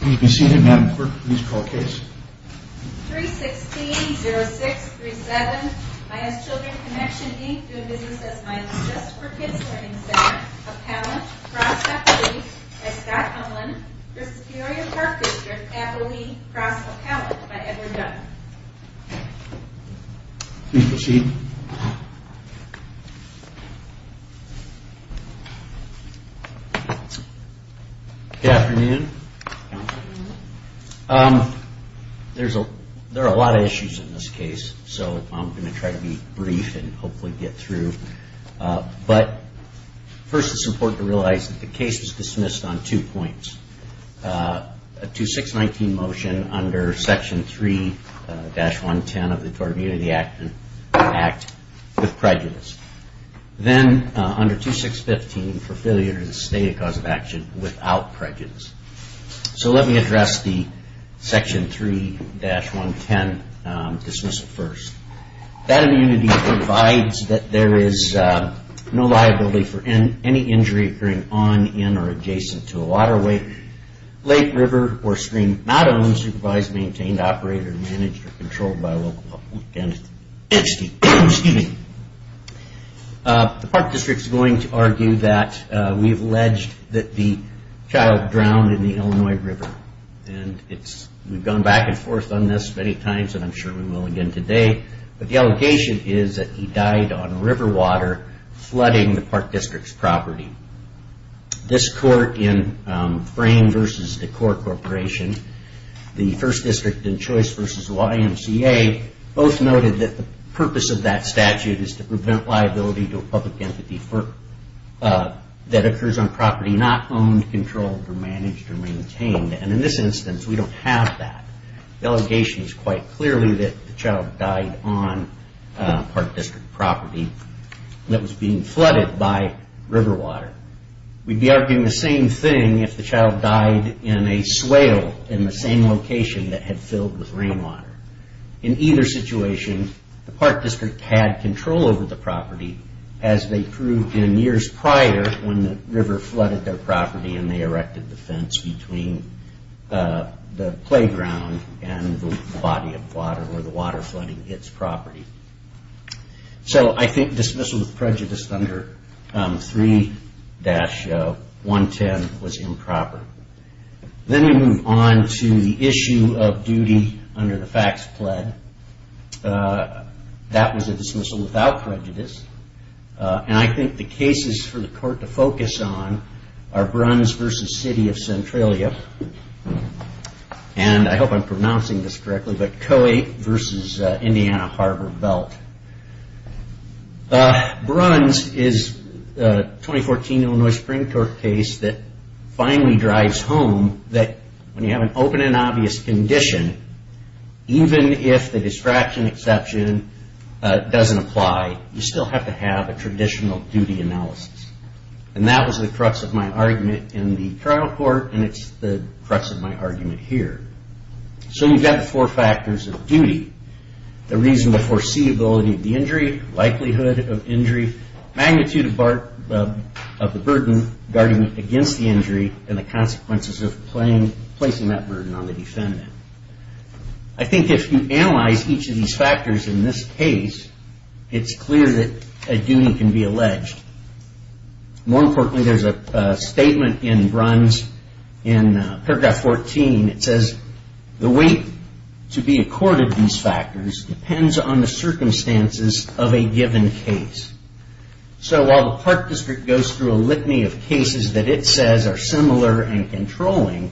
Please be seated, Madam Clerk. Please call the case. 316-0637 IS Children's Connection Inc. doing business as my assist for kids learning center. Appellant, cross appellee, by Scott Conlin, Presbyterian Park District. Appellee, cross appellant, by Edward Dunn. Please proceed. Good afternoon. There are a lot of issues in this case, so I'm going to try to be brief and hopefully get through. But first it's important to realize that the case is dismissed on two points. First, a 2619 motion under section 3-110 of the Tort Immunity Act with prejudice. Then under 2615 for failure to state a cause of action without prejudice. So let me address the section 3-110 dismissal first. That immunity provides that there is no liability for any injury occurring on, in, or adjacent to a waterway, lake, river, or stream, not owned, supervised, maintained, operated, managed, or controlled by a local public entity. The park district is going to argue that we've alleged that the child drowned in the Illinois River. We've gone back and forth on this many times and I'm sure we will again today. But the allegation is that he died on river water flooding the park district's property. This court in Frayne v. Decor Corporation, the first district in choice v. YMCA, both noted that the purpose of that statute is to prevent liability to a public entity that occurs on property not owned, controlled, or managed, or maintained. And in this instance, we don't have that. The allegation is quite clearly that the child died on park district property that was being flooded by river water. We'd be arguing the same thing if the child died in a swale in the same location that had filled with rainwater. In either situation, the park district had control over the property, as they proved in years prior when the river flooded their property and they erected the fence between the playground and the body of water, or the water flooding its property. So I think dismissal of prejudice under 3-110 was improper. Then we move on to the issue of duty under the facts pled. That was a dismissal without prejudice. And I think the cases for the court to focus on are Bruns v. City of Centralia, and I hope I'm pronouncing this correctly, but Coate v. Indiana Harbor Belt. Bruns is a 2014 Illinois Supreme Court case that finally drives home that when you have an open and obvious condition, even if the distraction exception doesn't apply, you still have to have a traditional duty analysis. And that was the crux of my argument in the trial court, and it's the crux of my argument here. So you've got the four factors of duty. The reasonable foreseeability of the injury, likelihood of injury, magnitude of the burden guarding against the injury, and the consequences of placing that burden on the defendant. I think if you analyze each of these factors in this case, it's clear that a duty can be alleged. More importantly, there's a statement in Bruns in paragraph 14. It says, the weight to be accorded these factors depends on the circumstances of a given case. So while the Park District goes through a litany of cases that it says are similar and controlling,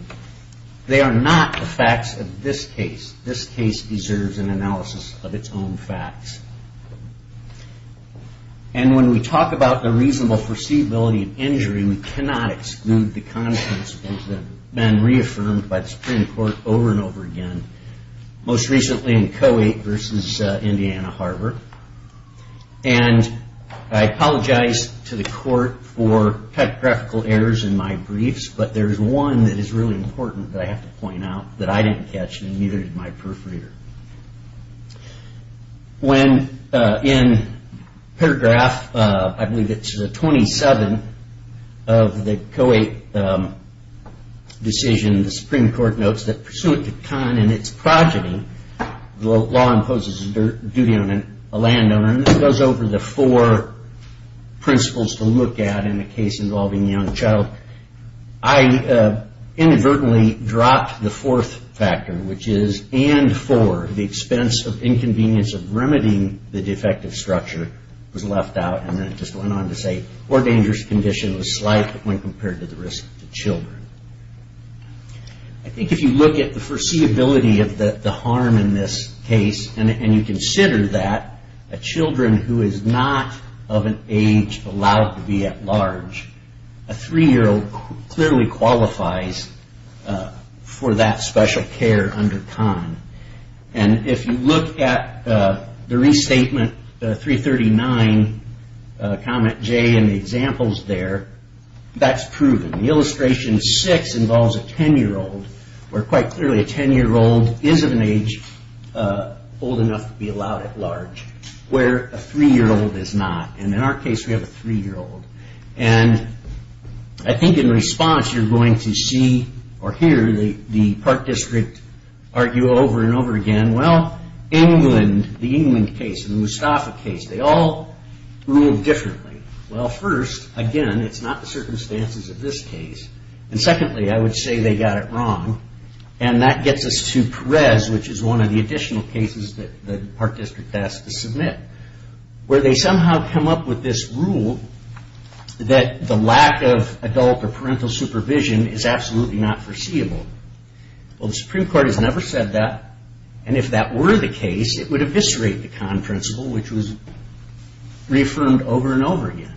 they are not the facts of this case. This case deserves an analysis of its own facts. And when we talk about the reasonable foreseeability of injury, we cannot exclude the consequences that have been reaffirmed by the Supreme Court over and over again, most recently in Co-8 versus Indiana Harbor. And I apologize to the court for typographical errors in my briefs, but there is one that is really important that I have to point out that I didn't catch, and neither did my proofreader. When in paragraph, I believe it's 27 of the Co-8 decision, the Supreme Court notes that pursuant to con in its progeny, the law imposes a duty on a landowner, and this goes over the four principles to look at in a case involving a young child. I inadvertently dropped the fourth factor, which is, and for the expense of inconvenience of remedying the defective structure, was left out, and then it just went on to say, or dangerous condition was slight when compared to the risk to children. I think if you look at the foreseeability of the harm in this case, and you consider that a children who is not of an age allowed to be at large, a three-year-old clearly qualifies for that special care under con. And if you look at the restatement 339, comment J in the examples there, that's proven. The illustration six involves a ten-year-old, where quite clearly a ten-year-old is of an age old enough to be allowed at large, where a three-year-old is not. And in our case, we have a three-year-old. And I think in response, you're going to see or hear the Park District argue over and over again, well, England, the England case, the Mustafa case, they all ruled differently. Well, first, again, it's not the circumstances of this case. And secondly, I would say they got it wrong, and that gets us to Perez, which is one of the additional cases that the Park District has to submit, where they somehow come up with this rule that the lack of adult or parental supervision is absolutely not foreseeable. Well, the Supreme Court has never said that. And if that were the case, it would eviscerate the con principle, which was reaffirmed over and over again.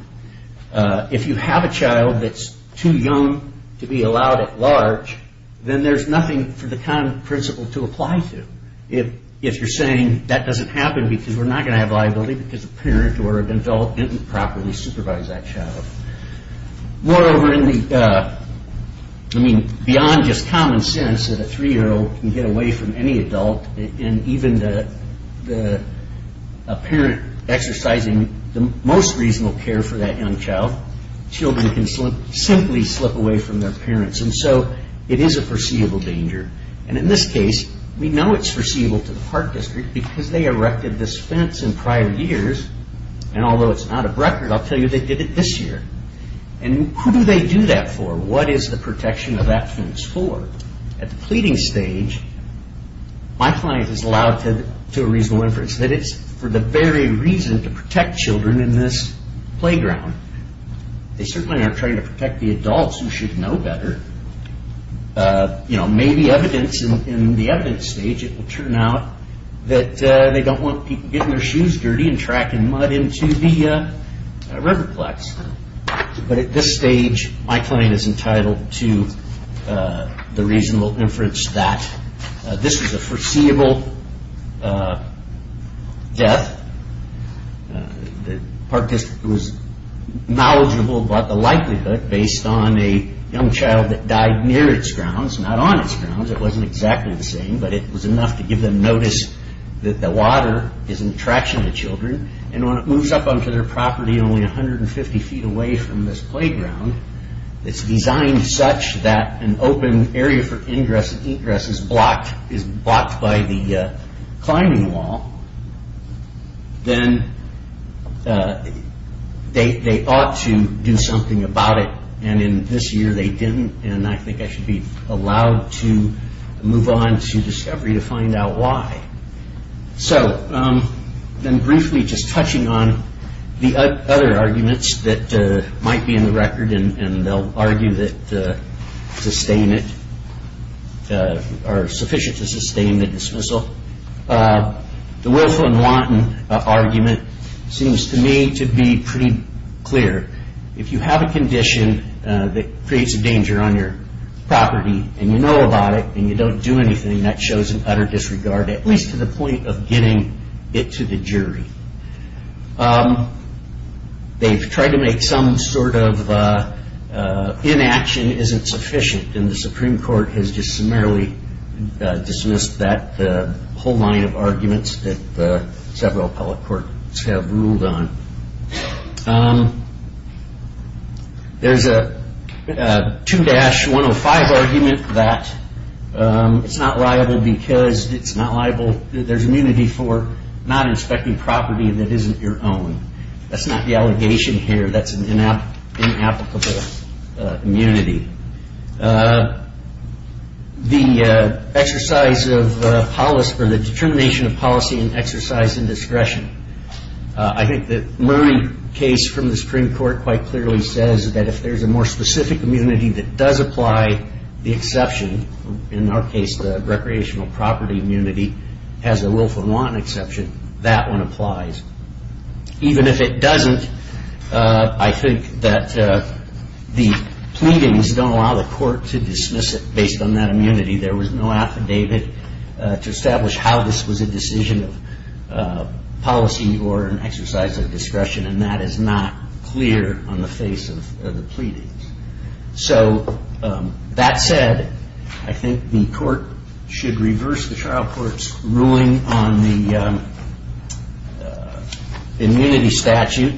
If you have a child that's too young to be allowed at large, then there's nothing for the con principle to apply to. If you're saying that doesn't happen because we're not going to have liability because the parent or adult didn't properly supervise that child. Moreover, I mean, beyond just common sense that a three-year-old can get away from any adult, and even a parent exercising the most reasonable care for that young child, children can simply slip away from their parents. And so it is a foreseeable danger. And in this case, we know it's foreseeable to the Park District because they erected this fence in prior years, and although it's not a record, I'll tell you they did it this year. And who do they do that for? What is the protection of that fence for? At the pleading stage, my client is allowed to do a reasonable inference that it's for the very reason to protect children in this playground. They certainly aren't trying to protect the adults who should know better. You know, maybe evidence in the evidence stage, it will turn out that they don't want people getting their shoes dirty and tracking mud into the riverplex. But at this stage, my client is entitled to the reasonable inference that this is a foreseeable death. The Park District was knowledgeable about the likelihood based on a young child that died near its grounds, not on its grounds. It wasn't exactly the same, but it was enough to give them notice that the water is an attraction to children. And when it moves up onto their property only 150 feet away from this playground, it's designed such that an open area for ingress and egress is blocked by the climbing wall. Then they ought to do something about it, and in this year they didn't, and I think I should be allowed to move on to discovery to find out why. So then briefly just touching on the other arguments that might be in the record, and they'll argue that to sustain it, are sufficient to sustain the dismissal. The Wilson-Wanton argument seems to me to be pretty clear. If you have a condition that creates a danger on your property and you know about it and you don't do anything, that shows an utter disregard, at least to the point of getting it to the jury. They've tried to make some sort of inaction isn't sufficient, and the Supreme Court has just summarily dismissed that whole line of arguments that several appellate courts have ruled on. There's a 2-105 argument that it's not liable because it's not liable, there's immunity for not inspecting property that isn't your own. That's not the allegation here. That's an inapplicable immunity. The determination of policy and exercise in discretion. I think the Murray case from the Supreme Court quite clearly says that if there's a more specific immunity that does apply, the exception, in our case the recreational property immunity, has a Wilson-Wanton exception, that one applies. Even if it doesn't, I think that the pleadings don't allow the court to dismiss it based on that immunity. There was no affidavit to establish how this was a decision of policy or an exercise of discretion, and that is not clear on the face of the pleadings. So, that said, I think the court should reverse the trial court's ruling on the immunity statute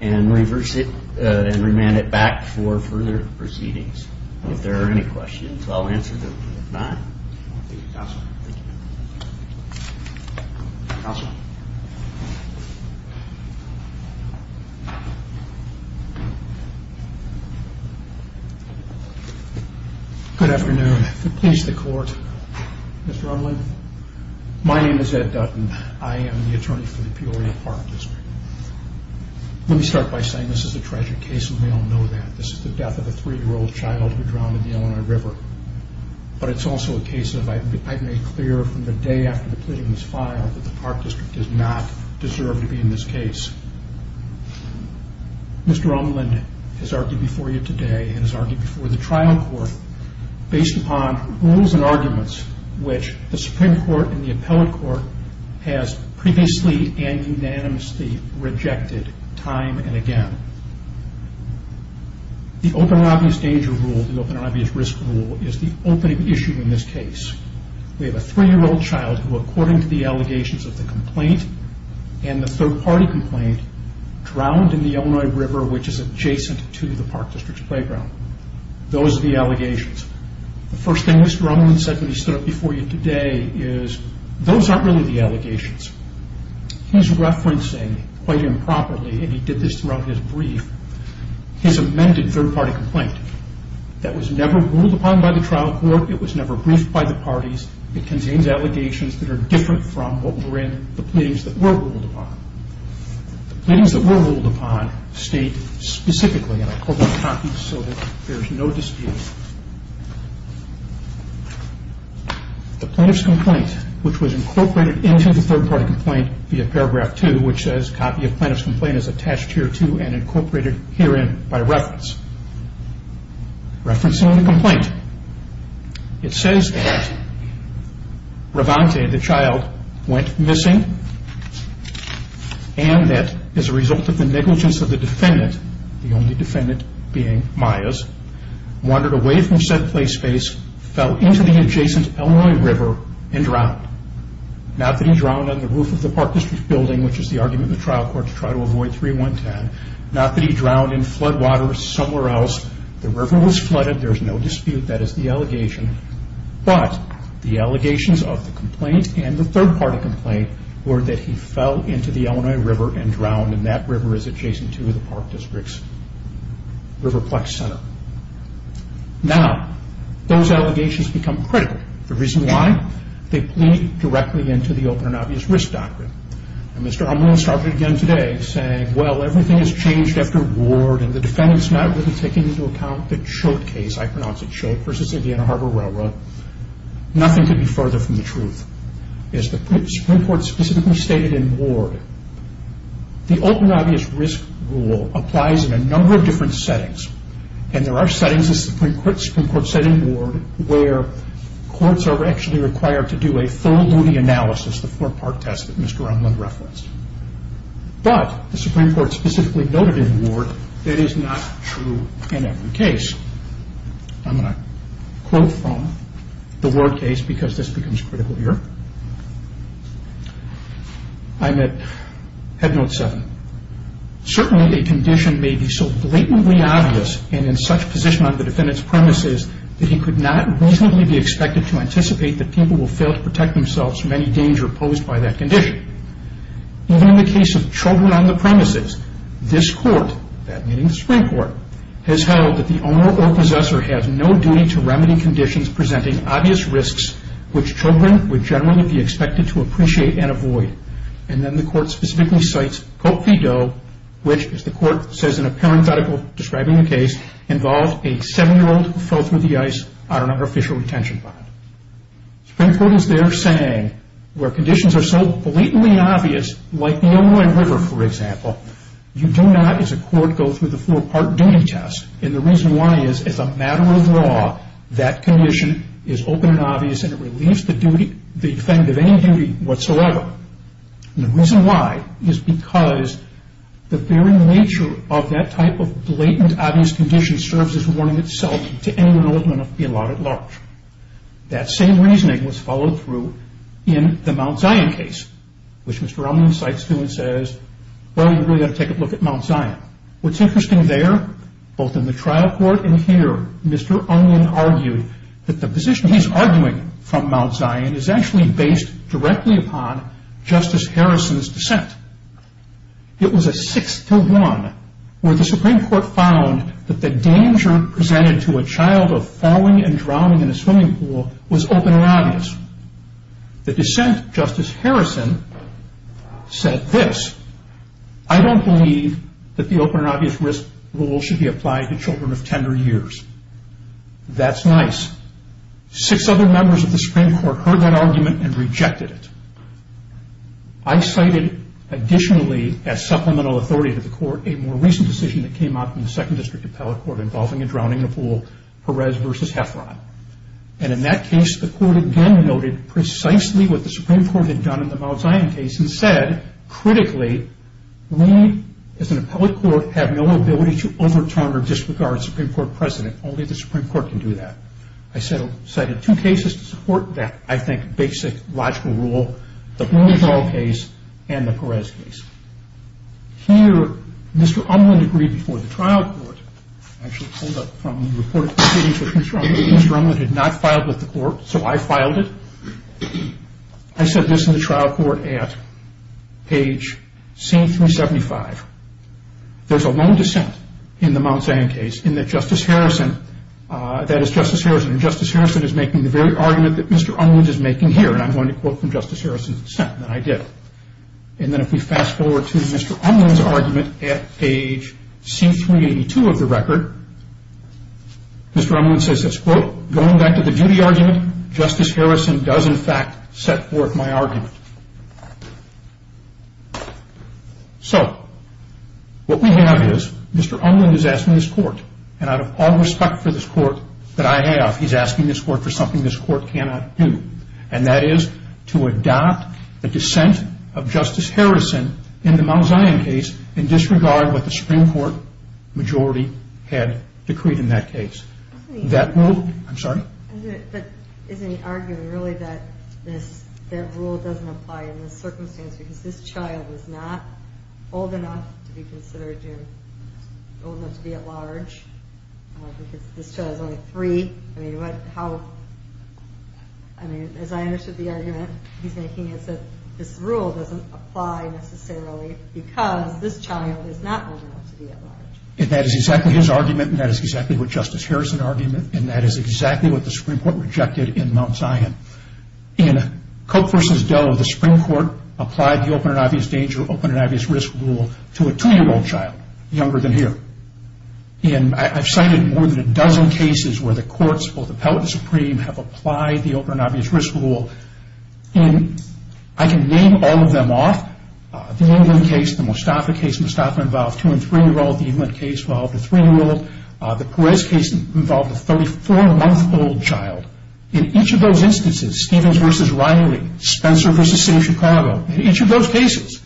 and reverse it and remand it back for further proceedings if there are any questions. I'll answer them if not. Thank you, counsel. Thank you. Counsel. Good afternoon. To please the court, Mr. Umland, my name is Ed Dutton. I am the attorney for the Peoria Park District. Let me start by saying this is a tragic case, and we all know that. This is the death of a three-year-old child who drowned in the Illinois River, but it's also a case that I've made clear from the day after the pleading was filed that the Park District does not deserve to be in this case. Mr. Umland has argued before you today and has argued before the trial court based upon rules and arguments which the Supreme Court and the appellate court has previously and unanimously rejected time and again. The open and obvious danger rule, the open and obvious risk rule, is the opening issue in this case. We have a three-year-old child who, according to the allegations of the complaint and the third-party complaint, drowned in the Illinois River, which is adjacent to the Park District's playground. Those are the allegations. The first thing Mr. Umland said when he stood up before you today is those aren't really the allegations. He's referencing quite improperly, and he did this throughout his brief, his amended third-party complaint that was never ruled upon by the trial court. It was never briefed by the parties. It contains allegations that are different from what were in the pleadings that were ruled upon. The pleadings that were ruled upon state specifically, and I quote in the copy so that there is no dispute, the plaintiff's complaint, which was incorporated into the third-party complaint via paragraph 2, which says, copy of plaintiff's complaint is attached here to and incorporated herein by reference. Referencing the complaint, it says that Ravante, the child, went missing and that as a result of the negligence of the defendant, the only defendant being Myers, wandered away from said play space, fell into the adjacent Illinois River, and drowned. Not that he drowned on the roof of the Park District building, which is the argument the trial court tried to avoid 3-1-10. Not that he drowned in flood water somewhere else. The river was flooded. There is no dispute. That is the allegation. But the allegations of the complaint and the third-party complaint were that he fell into the Illinois River and drowned, and that river is adjacent to the Park District's Riverplex Center. Now, those allegations become critical. The reason why? They plead directly into the Open and Obvious Risk Doctrine. And Mr. Amuro started again today saying, well, everything has changed after Ward, and the defendant is not really taking into account the Chode case. I pronounce it Chode v. Indiana Harbor Railroad. Nothing could be further from the truth. As the Supreme Court specifically stated in Ward, the Open and Obvious Risk Rule applies in a number of different settings. And there are settings, as the Supreme Court said in Ward, where courts are actually required to do a full looting analysis, the four-part test that Mr. Umbland referenced. But the Supreme Court specifically noted in Ward, that is not true in every case. I'm going to quote from the Ward case because this becomes critical here. I'm at Head Note 7. Certainly a condition may be so blatantly obvious and in such position on the defendant's premises that he could not reasonably be expected to anticipate that people will fail to protect themselves from any danger posed by that condition. Even in the case of children on the premises, this court, that meaning the Supreme Court, has held that the owner or possessor has no duty to remedy conditions presenting obvious risks, which children would generally be expected to appreciate and avoid. And then the court specifically cites Cope v. Doe, which, as the court says in a parenthetical describing the case, involves a seven-year-old who fell through the ice on an unofficial retention bond. The Supreme Court is there saying, where conditions are so blatantly obvious, like the Illinois River, for example, you do not, as a court, go through the four-part duty test. And the reason why is, as a matter of law, that condition is open and obvious and it relieves the defendant of any duty whatsoever. And the reason why is because the very nature of that type of blatant obvious condition serves as warning itself to anyone old enough to be allowed at large. That same reasoning was followed through in the Mount Zion case, which Mr. Ungman cites too and says, well, you really ought to take a look at Mount Zion. What's interesting there, both in the trial court and here, Mr. Ungman argued that the position he's arguing from Mount Zion is actually based directly upon Justice Harrison's dissent. It was a 6-1 where the Supreme Court found that the danger presented to a child of falling and drowning in a swimming pool was open and obvious. The dissent, Justice Harrison said this, I don't believe that the open and obvious risk rule should be applied to children of tender years. That's nice. Six other members of the Supreme Court heard that argument and rejected it. I cited, additionally, as supplemental authority to the court, a more recent decision that came up in the 2nd District Appellate Court involving a drowning in a pool, Perez v. Heffron. In that case, the court again noted precisely what the Supreme Court had done in the Mount Zion case and said, critically, we as an appellate court have no ability to overturn or disregard Supreme Court precedent. Only the Supreme Court can do that. I cited two cases to support that, I think, basic logical rule, the Boone's Hall case and the Perez case. Here, Mr. Unlund agreed before the trial court, actually pulled up from the report of proceedings with Mr. Unlund, Mr. Unlund had not filed with the court, so I filed it. I said this in the trial court at page C-375. There's a lone dissent in the Mount Zion case in that Justice Harrison, that is Justice Harrison, and Justice Harrison is making the very argument that Mr. Unlund is making here, and I'm going to quote from Justice Harrison's dissent, and I did. And then if we fast forward to Mr. Unlund's argument at page C-382 of the record, Mr. Unlund says this, quote, Going back to the duty argument, Justice Harrison does in fact set forth my argument. So what we have is Mr. Unlund is asking this court, and out of all respect for this court that I have, he's asking this court for something this court cannot do, and that is to adopt the dissent of Justice Harrison in the Mount Zion case in disregard of what the Supreme Court majority had decreed in that case. That rule, I'm sorry? But isn't he arguing really that that rule doesn't apply in this circumstance because this child is not old enough to be considered old enough to be at large? Because this child is only three. I mean, as I understood the argument he's making, it's that this rule doesn't apply necessarily because this child is not old enough to be at large. And that is exactly his argument, and that is exactly what Justice Harrison's argument, and that is exactly what the Supreme Court rejected in Mount Zion. In Koch v. Doe, the Supreme Court applied the open and obvious danger, to a two-year-old child younger than here. And I've cited more than a dozen cases where the courts, both Appellate and Supreme, have applied the open and obvious risk rule. And I can name all of them off. The Unlund case, the Mostafa case. Mostafa involved a two- and three-year-old. The Unlund case involved a three-year-old. The Perez case involved a 34-month-old child. In each of those instances, Stevens v. Riley, Spencer v. City of Chicago, in each of those cases,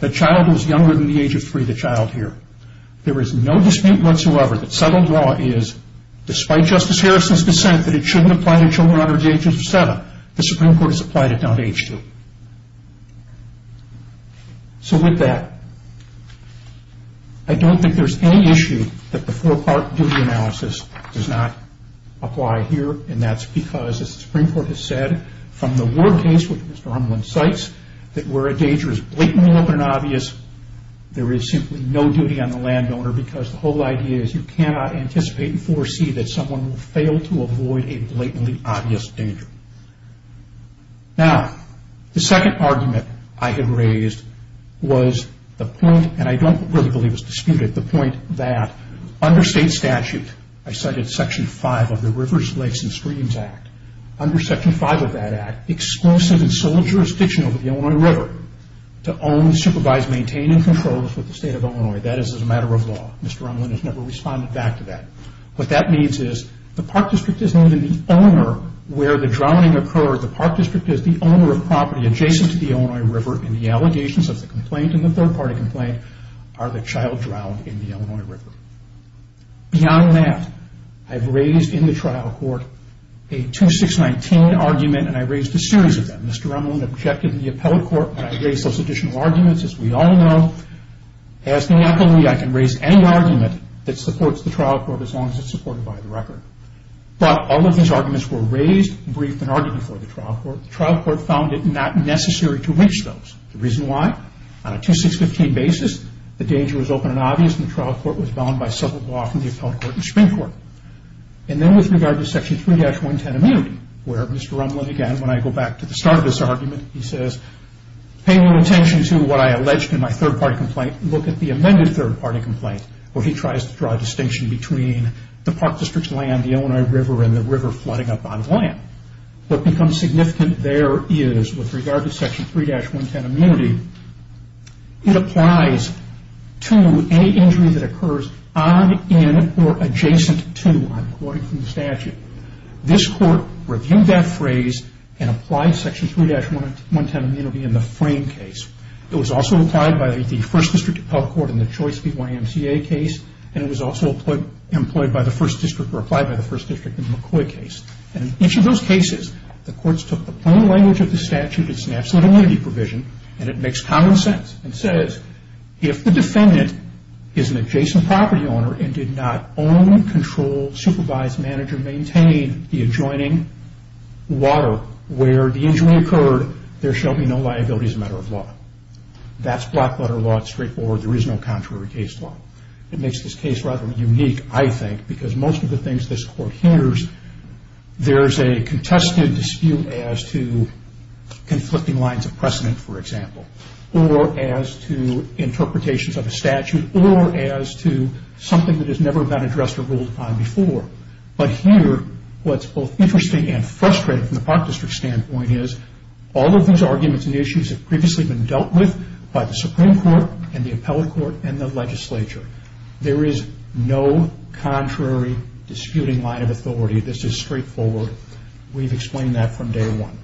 the child was younger than the age of three, the child here. There is no dispute whatsoever that settled law is, despite Justice Harrison's dissent, that it shouldn't apply to children under the age of seven. The Supreme Court has applied it down to age two. So with that, I don't think there's any issue that the four-part duty analysis does not apply here, and that's because, as the Supreme Court has said, from the Ward case, which Mr. Unlund cites, that where a danger is blatantly open and obvious, there is simply no duty on the landowner because the whole idea is you cannot anticipate and foresee that someone will fail to avoid a blatantly obvious danger. Now, the second argument I had raised was the point, and I don't really believe it's disputed, the point that under state statute, I cited Section 5 of the Rivers, Lakes, and Streams Act, under Section 5 of that act, exclusive and sole jurisdiction over the Illinois River to own, supervise, maintain, and control the state of Illinois. That is a matter of law. Mr. Unlund has never responded back to that. What that means is the park district is not only the owner where the drowning occurred, the park district is the owner of property adjacent to the Illinois River, and the allegations of the complaint and the third-party complaint are the child drowned in the Illinois River. Beyond that, I've raised in the trial court a 2619 argument, and I raised a series of them. Mr. Unlund objected to the appellate court, but I raised those additional arguments. As we all know, as an appellee, I can raise any argument that supports the trial court as long as it's supported by the record. But all of his arguments were raised, briefed, and argued before the trial court. The trial court found it not necessary to reach those. The reason why? On a 2615 basis, the danger was open and obvious, and the trial court was bound by civil law from the appellate court and Supreme Court. And then with regard to Section 3-110 immunity, where Mr. Unlund again, when I go back to the start of this argument, he says, paying attention to what I alleged in my third-party complaint, look at the amended third-party complaint where he tries to draw a distinction between the park district's land, the Illinois River, and the river flooding up on land. What becomes significant there is, with regard to Section 3-110 immunity, it applies to any injury that occurs on, in, or adjacent to, according to the statute. This court reviewed that phrase and applied Section 3-110 immunity in the frame case. It was also applied by the First District Appellate Court in the Choice v. YMCA case, and it was also employed by the First District, or applied by the First District in the McCoy case. And in each of those cases, the courts took the plain language of the statute, it's an absolute immunity provision, and it makes common sense. It says, if the defendant is an adjacent property owner and did not own, control, supervise, manage, or maintain the adjoining water where the injury occurred, there shall be no liability as a matter of law. That's block letter law, it's straightforward, there is no contrary case law. It makes this case rather unique, I think, because most of the things this court hears, there's a contested dispute as to conflicting lines of precedent, for example, or as to interpretations of a statute, or as to something that has never been addressed or ruled upon before. But here, what's both interesting and frustrating from the Park District standpoint is, all of those arguments and issues have previously been dealt with by the Supreme Court, and the Appellate Court, and the legislature. There is no contrary disputing line of authority, this is straightforward. We've explained that from day one.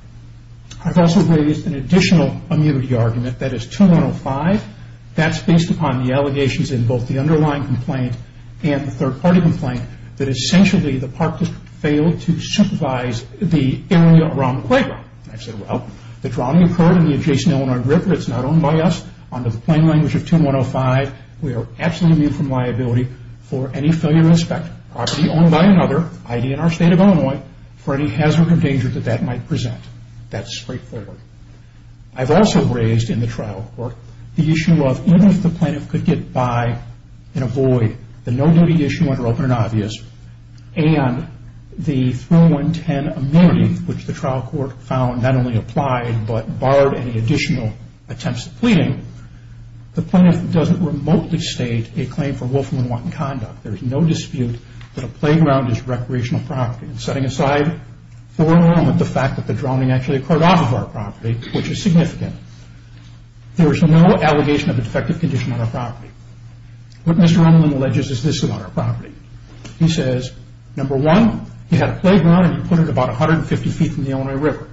I've also raised an additional immunity argument, that is 2-105, that's based upon the allegations in both the underlying complaint and the third party complaint, that essentially the Park District failed to supervise the area around the playground. I've said, well, the drowning occurred in the adjacent Illinois River, it's not owned by us, under the plain language of 2-105, we are absolutely immune from liability for any failure to inspect property owned by another, i.e., in our state of Illinois, for any hazard or danger that that might present. That's straightforward. I've also raised in the trial court the issue of, even if the plaintiff could get by and avoid the no-duty issue under open and obvious, and the 3-110 immunity, which the trial court found not only applied, but barred any additional attempts at pleading, the plaintiff doesn't remotely state a claim for Wolfram & Watkins conduct. There is no dispute that a playground is recreational property. Setting aside for a moment the fact that the drowning actually occurred off of our property, which is significant, there is no allegation of a defective condition on our property. What Mr. Unwin alleges is this about our property. He says, number one, you had a playground and you put it about 150 feet from the Illinois River.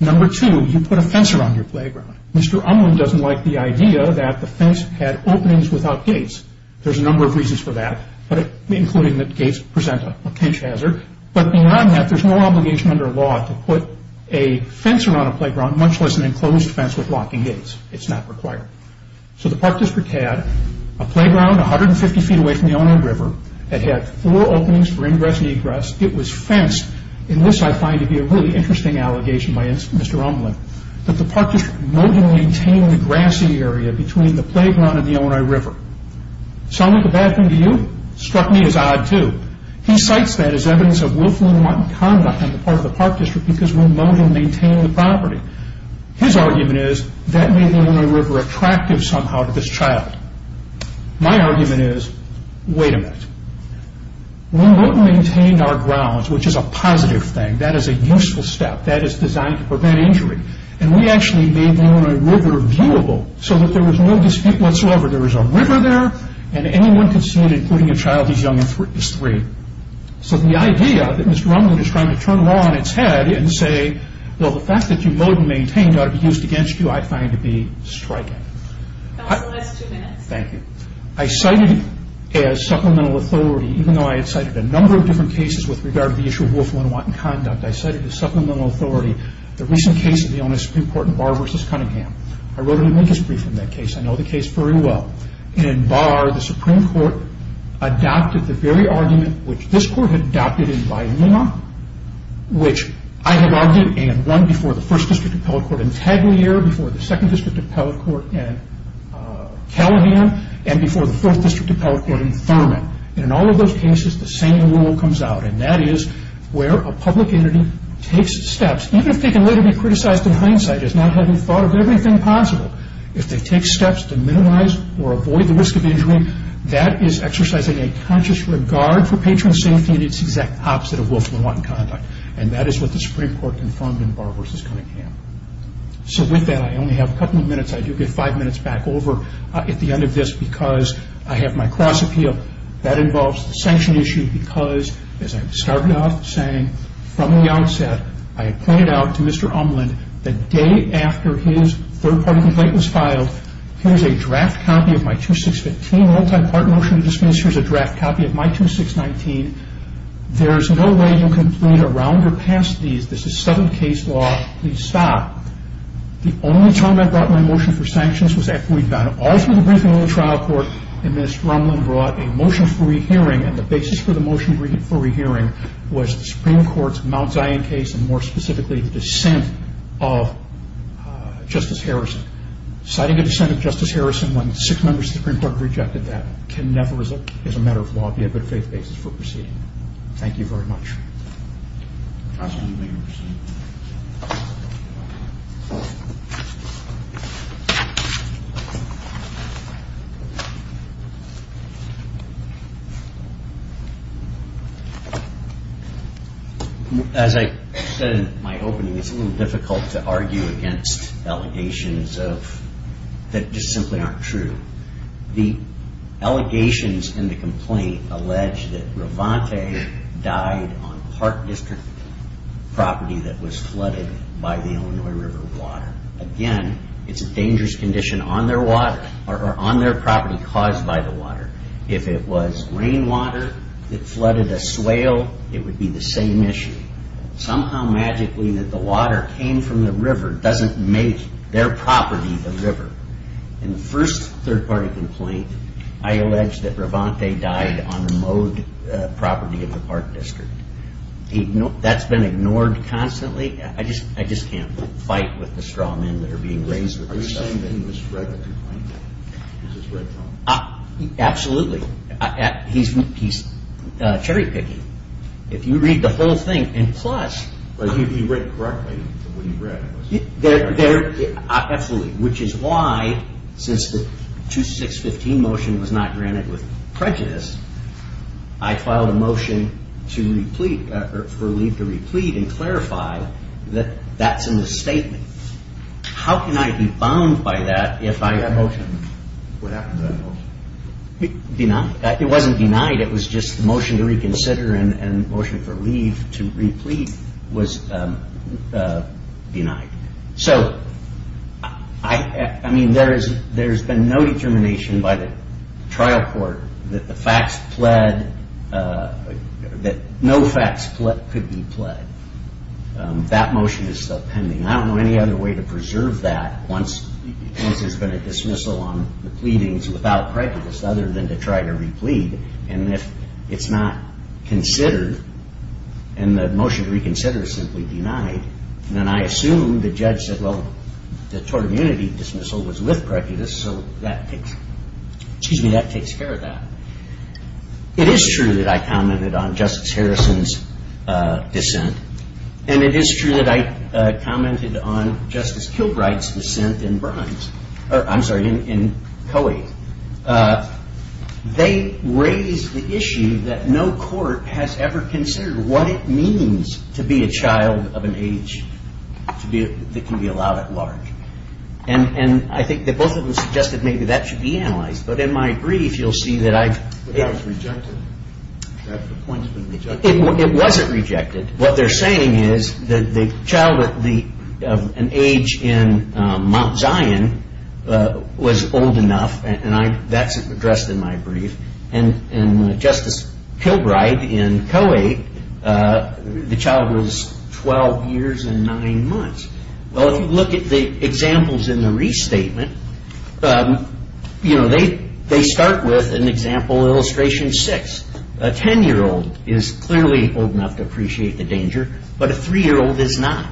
Number two, you put a fence around your playground. Mr. Unwin doesn't like the idea that the fence had openings without gates. There's a number of reasons for that, including that gates present a pinch hazard. But beyond that, there's no obligation under law to put a fence around a playground, much less an enclosed fence with locking gates. It's not required. So the Park District had a playground 150 feet away from the Illinois River. It had four openings for ingress and egress. It was fenced, and this I find to be a really interesting allegation by Mr. Unwin, that the Park District remotely maintained the grassy area between the playground and the Illinois River. Sound like a bad thing to you? Struck me as odd too. He cites that as evidence of willful and wanton conduct on the part of the Park District because we remotely maintained the property. His argument is that made the Illinois River attractive somehow to this child. My argument is, wait a minute. We remotely maintained our grounds, which is a positive thing. That is a useful step. That is designed to prevent injury. And we actually made the Illinois River viewable so that there was no dispute whatsoever. There was a river there, and anyone could see it, including a child as young as three. So the idea that Mr. Unwin is trying to turn the law on its head and say, well, the fact that you remotely maintained ought to be used against you, I find to be striking. That's the last two minutes. Thank you. I cited as supplemental authority, even though I had cited a number of different cases with regard to the issue of willful and wanton conduct, I cited as supplemental authority the recent case of the Illinois Supreme Court in Barr v. Cunningham. I wrote an amicus brief in that case. I know the case very well. In Barr, the Supreme Court adopted the very argument which this Court had adopted in Vyingenau, which I had argued and won before the First District Appellate Court in Tagliere, before the Second District Appellate Court in Callahan, and before the Fourth District Appellate Court in Thurman. And in all of those cases, the same rule comes out, and that is where a public entity takes steps, even if they can later be criticized in hindsight as not having thought of everything possible, if they take steps to minimize or avoid the risk of injury, that is exercising a conscious regard for patron safety and it's the exact opposite of willful and wanton conduct. And that is what the Supreme Court confirmed in Barr v. Cunningham. So with that, I only have a couple of minutes. I do get five minutes back over at the end of this because I have my cross appeal. That involves the sanction issue because, as I started off saying from the outset, I had pointed out to Mr. Umland the day after his third-party complaint was filed, here's a draft copy of my 2615 multi-part motion to dismiss, here's a draft copy of my 2619. There is no way you can plead around or pass these. This is sudden case law. Please stop. The only time I brought my motion for sanctions was after we'd gone all through the briefing and the General Trial Court and Mr. Umland brought a motion for rehearing and the basis for the motion for rehearing was the Supreme Court's Mount Zion case and more specifically the dissent of Justice Harrison. Citing a dissent of Justice Harrison when six members of the Supreme Court rejected that can never as a matter of law be a good faith basis for proceeding. Thank you very much. As I said in my opening, it's a little difficult to argue against allegations that just simply aren't true. The allegations in the complaint allege that Revante died on Park District property that was flooded by the Illinois River water. Again, it's a dangerous condition on their water or on their property caused by the water. If it was rainwater that flooded a swale, it would be the same issue. Somehow magically that the water came from the river doesn't make their property the river. In the first third party complaint, I allege that Revante died on the mowed property of the Park District. That's been ignored constantly. I just can't fight with the straw men that are being raised with this stuff. Are you saying that he misread the complaint? Absolutely. He's cherry picking. If you read the whole thing and plus... But he read it correctly from what he read. Absolutely. Which is why since the 2615 motion was not granted with prejudice, I filed a motion for leave to replete and clarify that that's in the statement. How can I be bound by that if I... What happened to that motion? It wasn't denied. It was just the motion to reconsider and the motion for leave to replete was denied. There's been no determination by the trial court that no facts could be pled. That motion is still pending. I don't know any other way to preserve that once there's been a dismissal on the pleadings without prejudice other than to try to replete. If it's not considered and the motion to reconsider is simply denied, then I assume the judge said, well, the tort immunity dismissal was with prejudice, so that takes care of that. It is true that I commented on Justice Harrison's dissent, and it is true that I commented on Justice Kilbright's dissent in Coey. They raised the issue that no court has ever considered what it means to be a child of an age that can be allowed at large. And I think that both of them suggested maybe that should be analyzed. But in my brief, you'll see that I've... That appointment was rejected. It wasn't rejected. What they're saying is that the child of an age in Mount Zion was old enough, and that's addressed in my brief. And Justice Kilbright in Coey, the child was 12 years and 9 months. Well, if you look at the examples in the restatement, they start with an example illustration 6. A 10-year-old is clearly old enough to appreciate the danger, but a 3-year-old is not.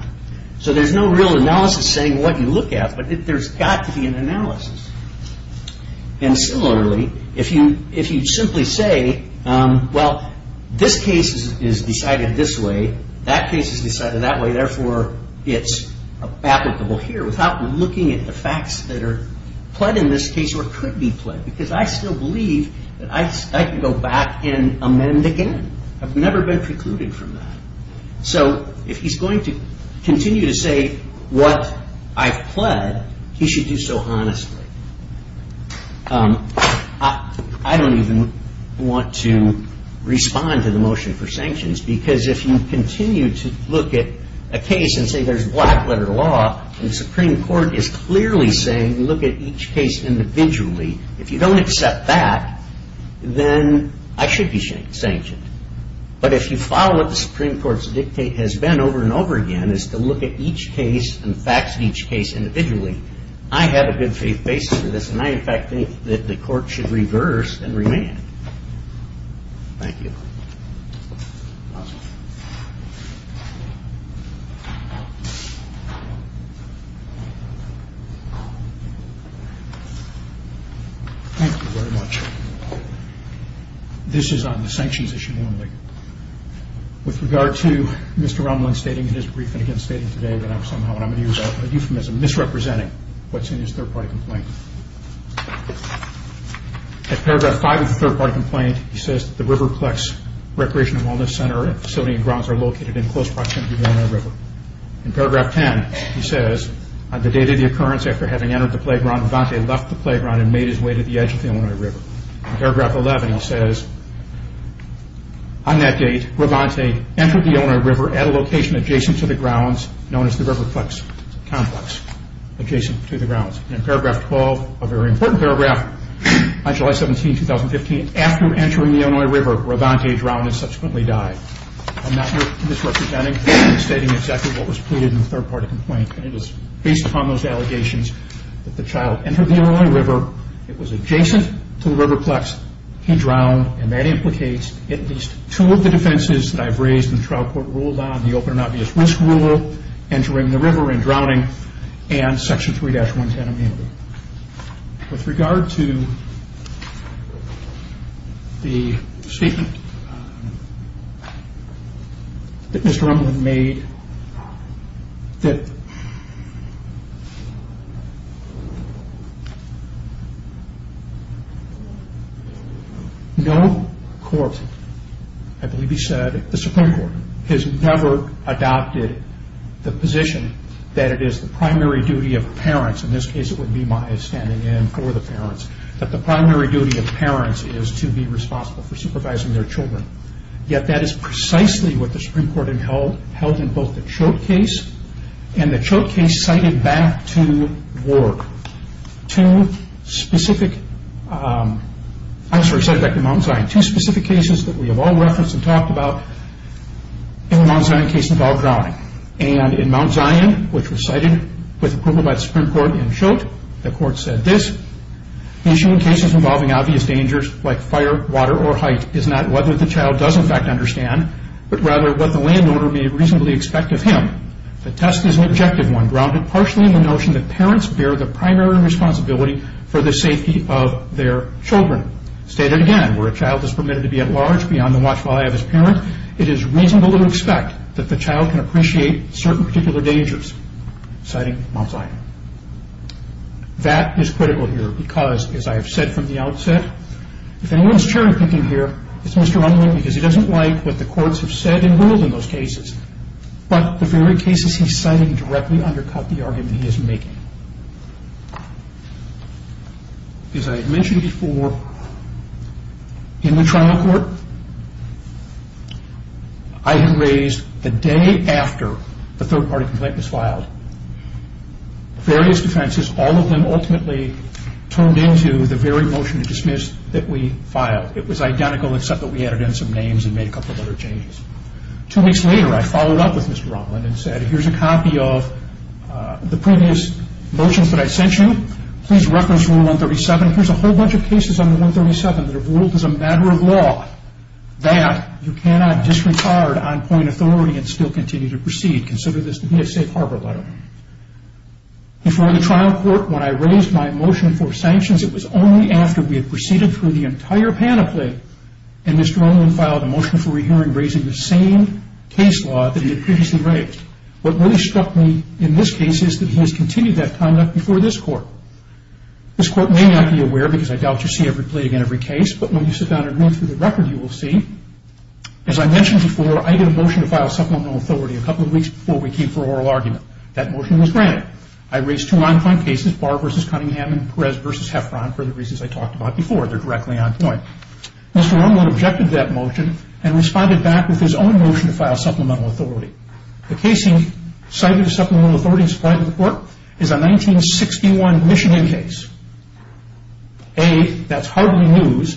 So there's no real analysis saying what you look at, but there's got to be an analysis. And similarly, if you simply say, well, this case is decided this way, that case is decided that way, therefore it's applicable here without looking at the facts that are pled in this case or could be pled, because I still believe that I can go back and amend again. I've never been precluded from that. So if he's going to continue to say what I've pled, he should do so honestly. I don't even want to respond to the motion for sanctions, because if you continue to look at a case and say there's black-letter law, and the Supreme Court is clearly saying look at each case individually, if you don't accept that, then I should be sanctioned. But if you follow what the Supreme Court's dictate has been over and over again is to look at each case and the facts of each case individually, I have a good faith basis for this, and I, in fact, think that the Court should reverse and remand. Thank you. Thank you very much. This is on the sanctions issue only. With regard to Mr. Romlin stating in his briefing today that I'm somehow, and I'm going to use a euphemism, misrepresenting what's in his third-party complaint. At paragraph 5 of the third-party complaint, he says that the Riverplex Recreational Wellness Center and facility and grounds are located in close proximity to the Illinois River. In paragraph 10, he says, on the date of the occurrence, after having entered the playground, Revante left the playground and made his way to the edge of the Illinois River. In paragraph 11, he says, on that date, Revante entered the Illinois River at a location adjacent to the grounds known as the Riverplex complex, adjacent to the grounds. In paragraph 12, a very important paragraph, on July 17, 2015, after entering the Illinois River, Revante drowned and subsequently died. I'm not misrepresenting. I'm stating exactly what was pleaded in the third-party complaint, and it was based upon those allegations that the child entered the Illinois River. It was adjacent to the Riverplex. He drowned, and that implicates at least two of the defenses that I've raised and the trial court ruled on, the open and obvious risk rule, entering the river and drowning, and section 3-110 immunity. With regard to the statement that Mr. Umland made, that no court, I believe he said, the Supreme Court, has never adopted the position that it is the primary duty of parents, in this case it would be my standing in for the parents, that the primary duty of parents is to be responsible for supervising their children. Yet that is precisely what the Supreme Court held in both the Chote case and the Chote case cited back to Mount Zion. Two specific cases that we have all referenced and talked about in the Mount Zion case involved drowning. And in Mount Zion, which was cited with approval by the Supreme Court in Chote, the court said this, Issuing cases involving obvious dangers like fire, water, or height is not whether the child does in fact understand, but rather what the landowner may reasonably expect of him. The test is an objective one, grounded partially in the notion that parents bear the primary responsibility for the safety of their children. Stated again, where a child is permitted to be at large beyond the watchful eye of his parent, it is reasonable to expect that the child can appreciate certain particular dangers. Citing Mount Zion. That is critical here because, as I have said from the outset, if anyone is cherry picking here, it's Mr. Unwin, because he doesn't like what the courts have said and ruled in those cases. But the very cases he's citing directly undercut the argument he is making. As I mentioned before, in the trial court, I had raised the day after the third party complaint was filed, various defenses, all of them ultimately turned into the very motion to dismiss that we filed. It was identical except that we added in some names and made a couple of other changes. Two weeks later, I followed up with Mr. Unwin and said, here's a copy of the previous motions that I sent you. Please reference Rule 137. Here's a whole bunch of cases under 137 that have ruled as a matter of law that you cannot disregard on point authority and still continue to proceed. Consider this to be a safe harbor letter. Before the trial court, when I raised my motion for sanctions, it was only after we had proceeded through the entire panoply and Mr. Unwin filed a motion for rehearing raising the same case law that he had previously raised. What really struck me in this case is that he has continued that conduct before this court. This court may not be aware, because I doubt you see every plea against every case, but when you sit down and read through the record, you will see. As I mentioned before, I did a motion to file supplemental authority a couple of weeks before we came for oral argument. That motion was granted. I raised two on-point cases, Barr v. Cunningham and Perez v. Heffron, for the reasons I talked about before. They're directly on point. Mr. Unwin objected to that motion and responded back with his own motion to file supplemental authority. The case he cited as supplemental authority in his final report is a 1961 Michigan case. A, that's hardly news.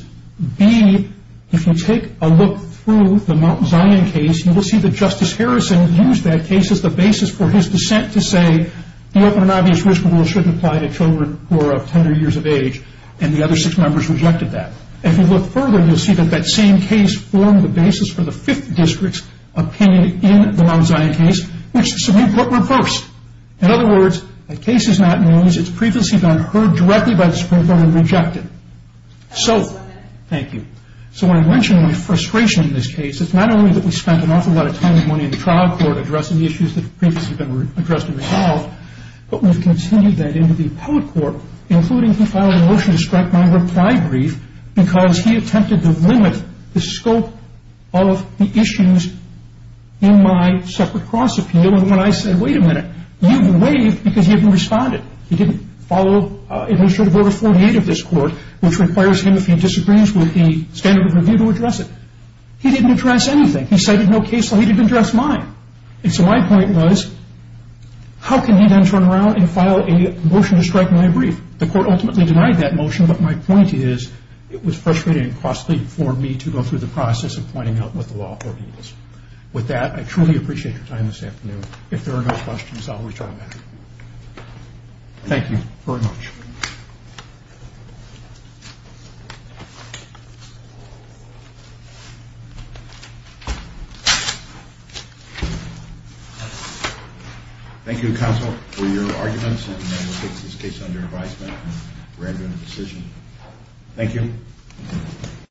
B, if you take a look through the Mount Zion case, you will see that Justice Harrison used that case as the basis for his dissent to say the open and obvious risk of war shouldn't apply to children who are of tender years of age, and the other six members rejected that. If you look further, you'll see that that same case formed the basis for the Fifth District's opinion in the Mount Zion case, which the Supreme Court reversed. In other words, the case is not news. Its preface has been heard directly by the Supreme Court and rejected. Thank you. So when I mentioned my frustration in this case, it's not only that we spent an awful lot of time and money in the trial court addressing the issues that have previously been addressed in the trial, but we've continued that into the appellate court, including he filed a motion to scrap my reply brief because he attempted to limit the scope of the issues in my separate cross-appeal. And when I said, wait a minute, you've been waived because you haven't responded, he didn't follow administrative order 48 of this court, which requires him, if he disagrees with the standard of review, to address it. He didn't address anything. He cited no case where he didn't address mine. And so my point was, how can he then turn around and file a motion to strike my brief? The court ultimately denied that motion, but my point is, it was frustrating and costly for me to go through the process of pointing out what the law order is. With that, I truly appreciate your time this afternoon. If there are no questions, I'll return back. Thank you very much. Thank you, counsel, for your arguments. And I will take this case under advisement and render a decision. Thank you.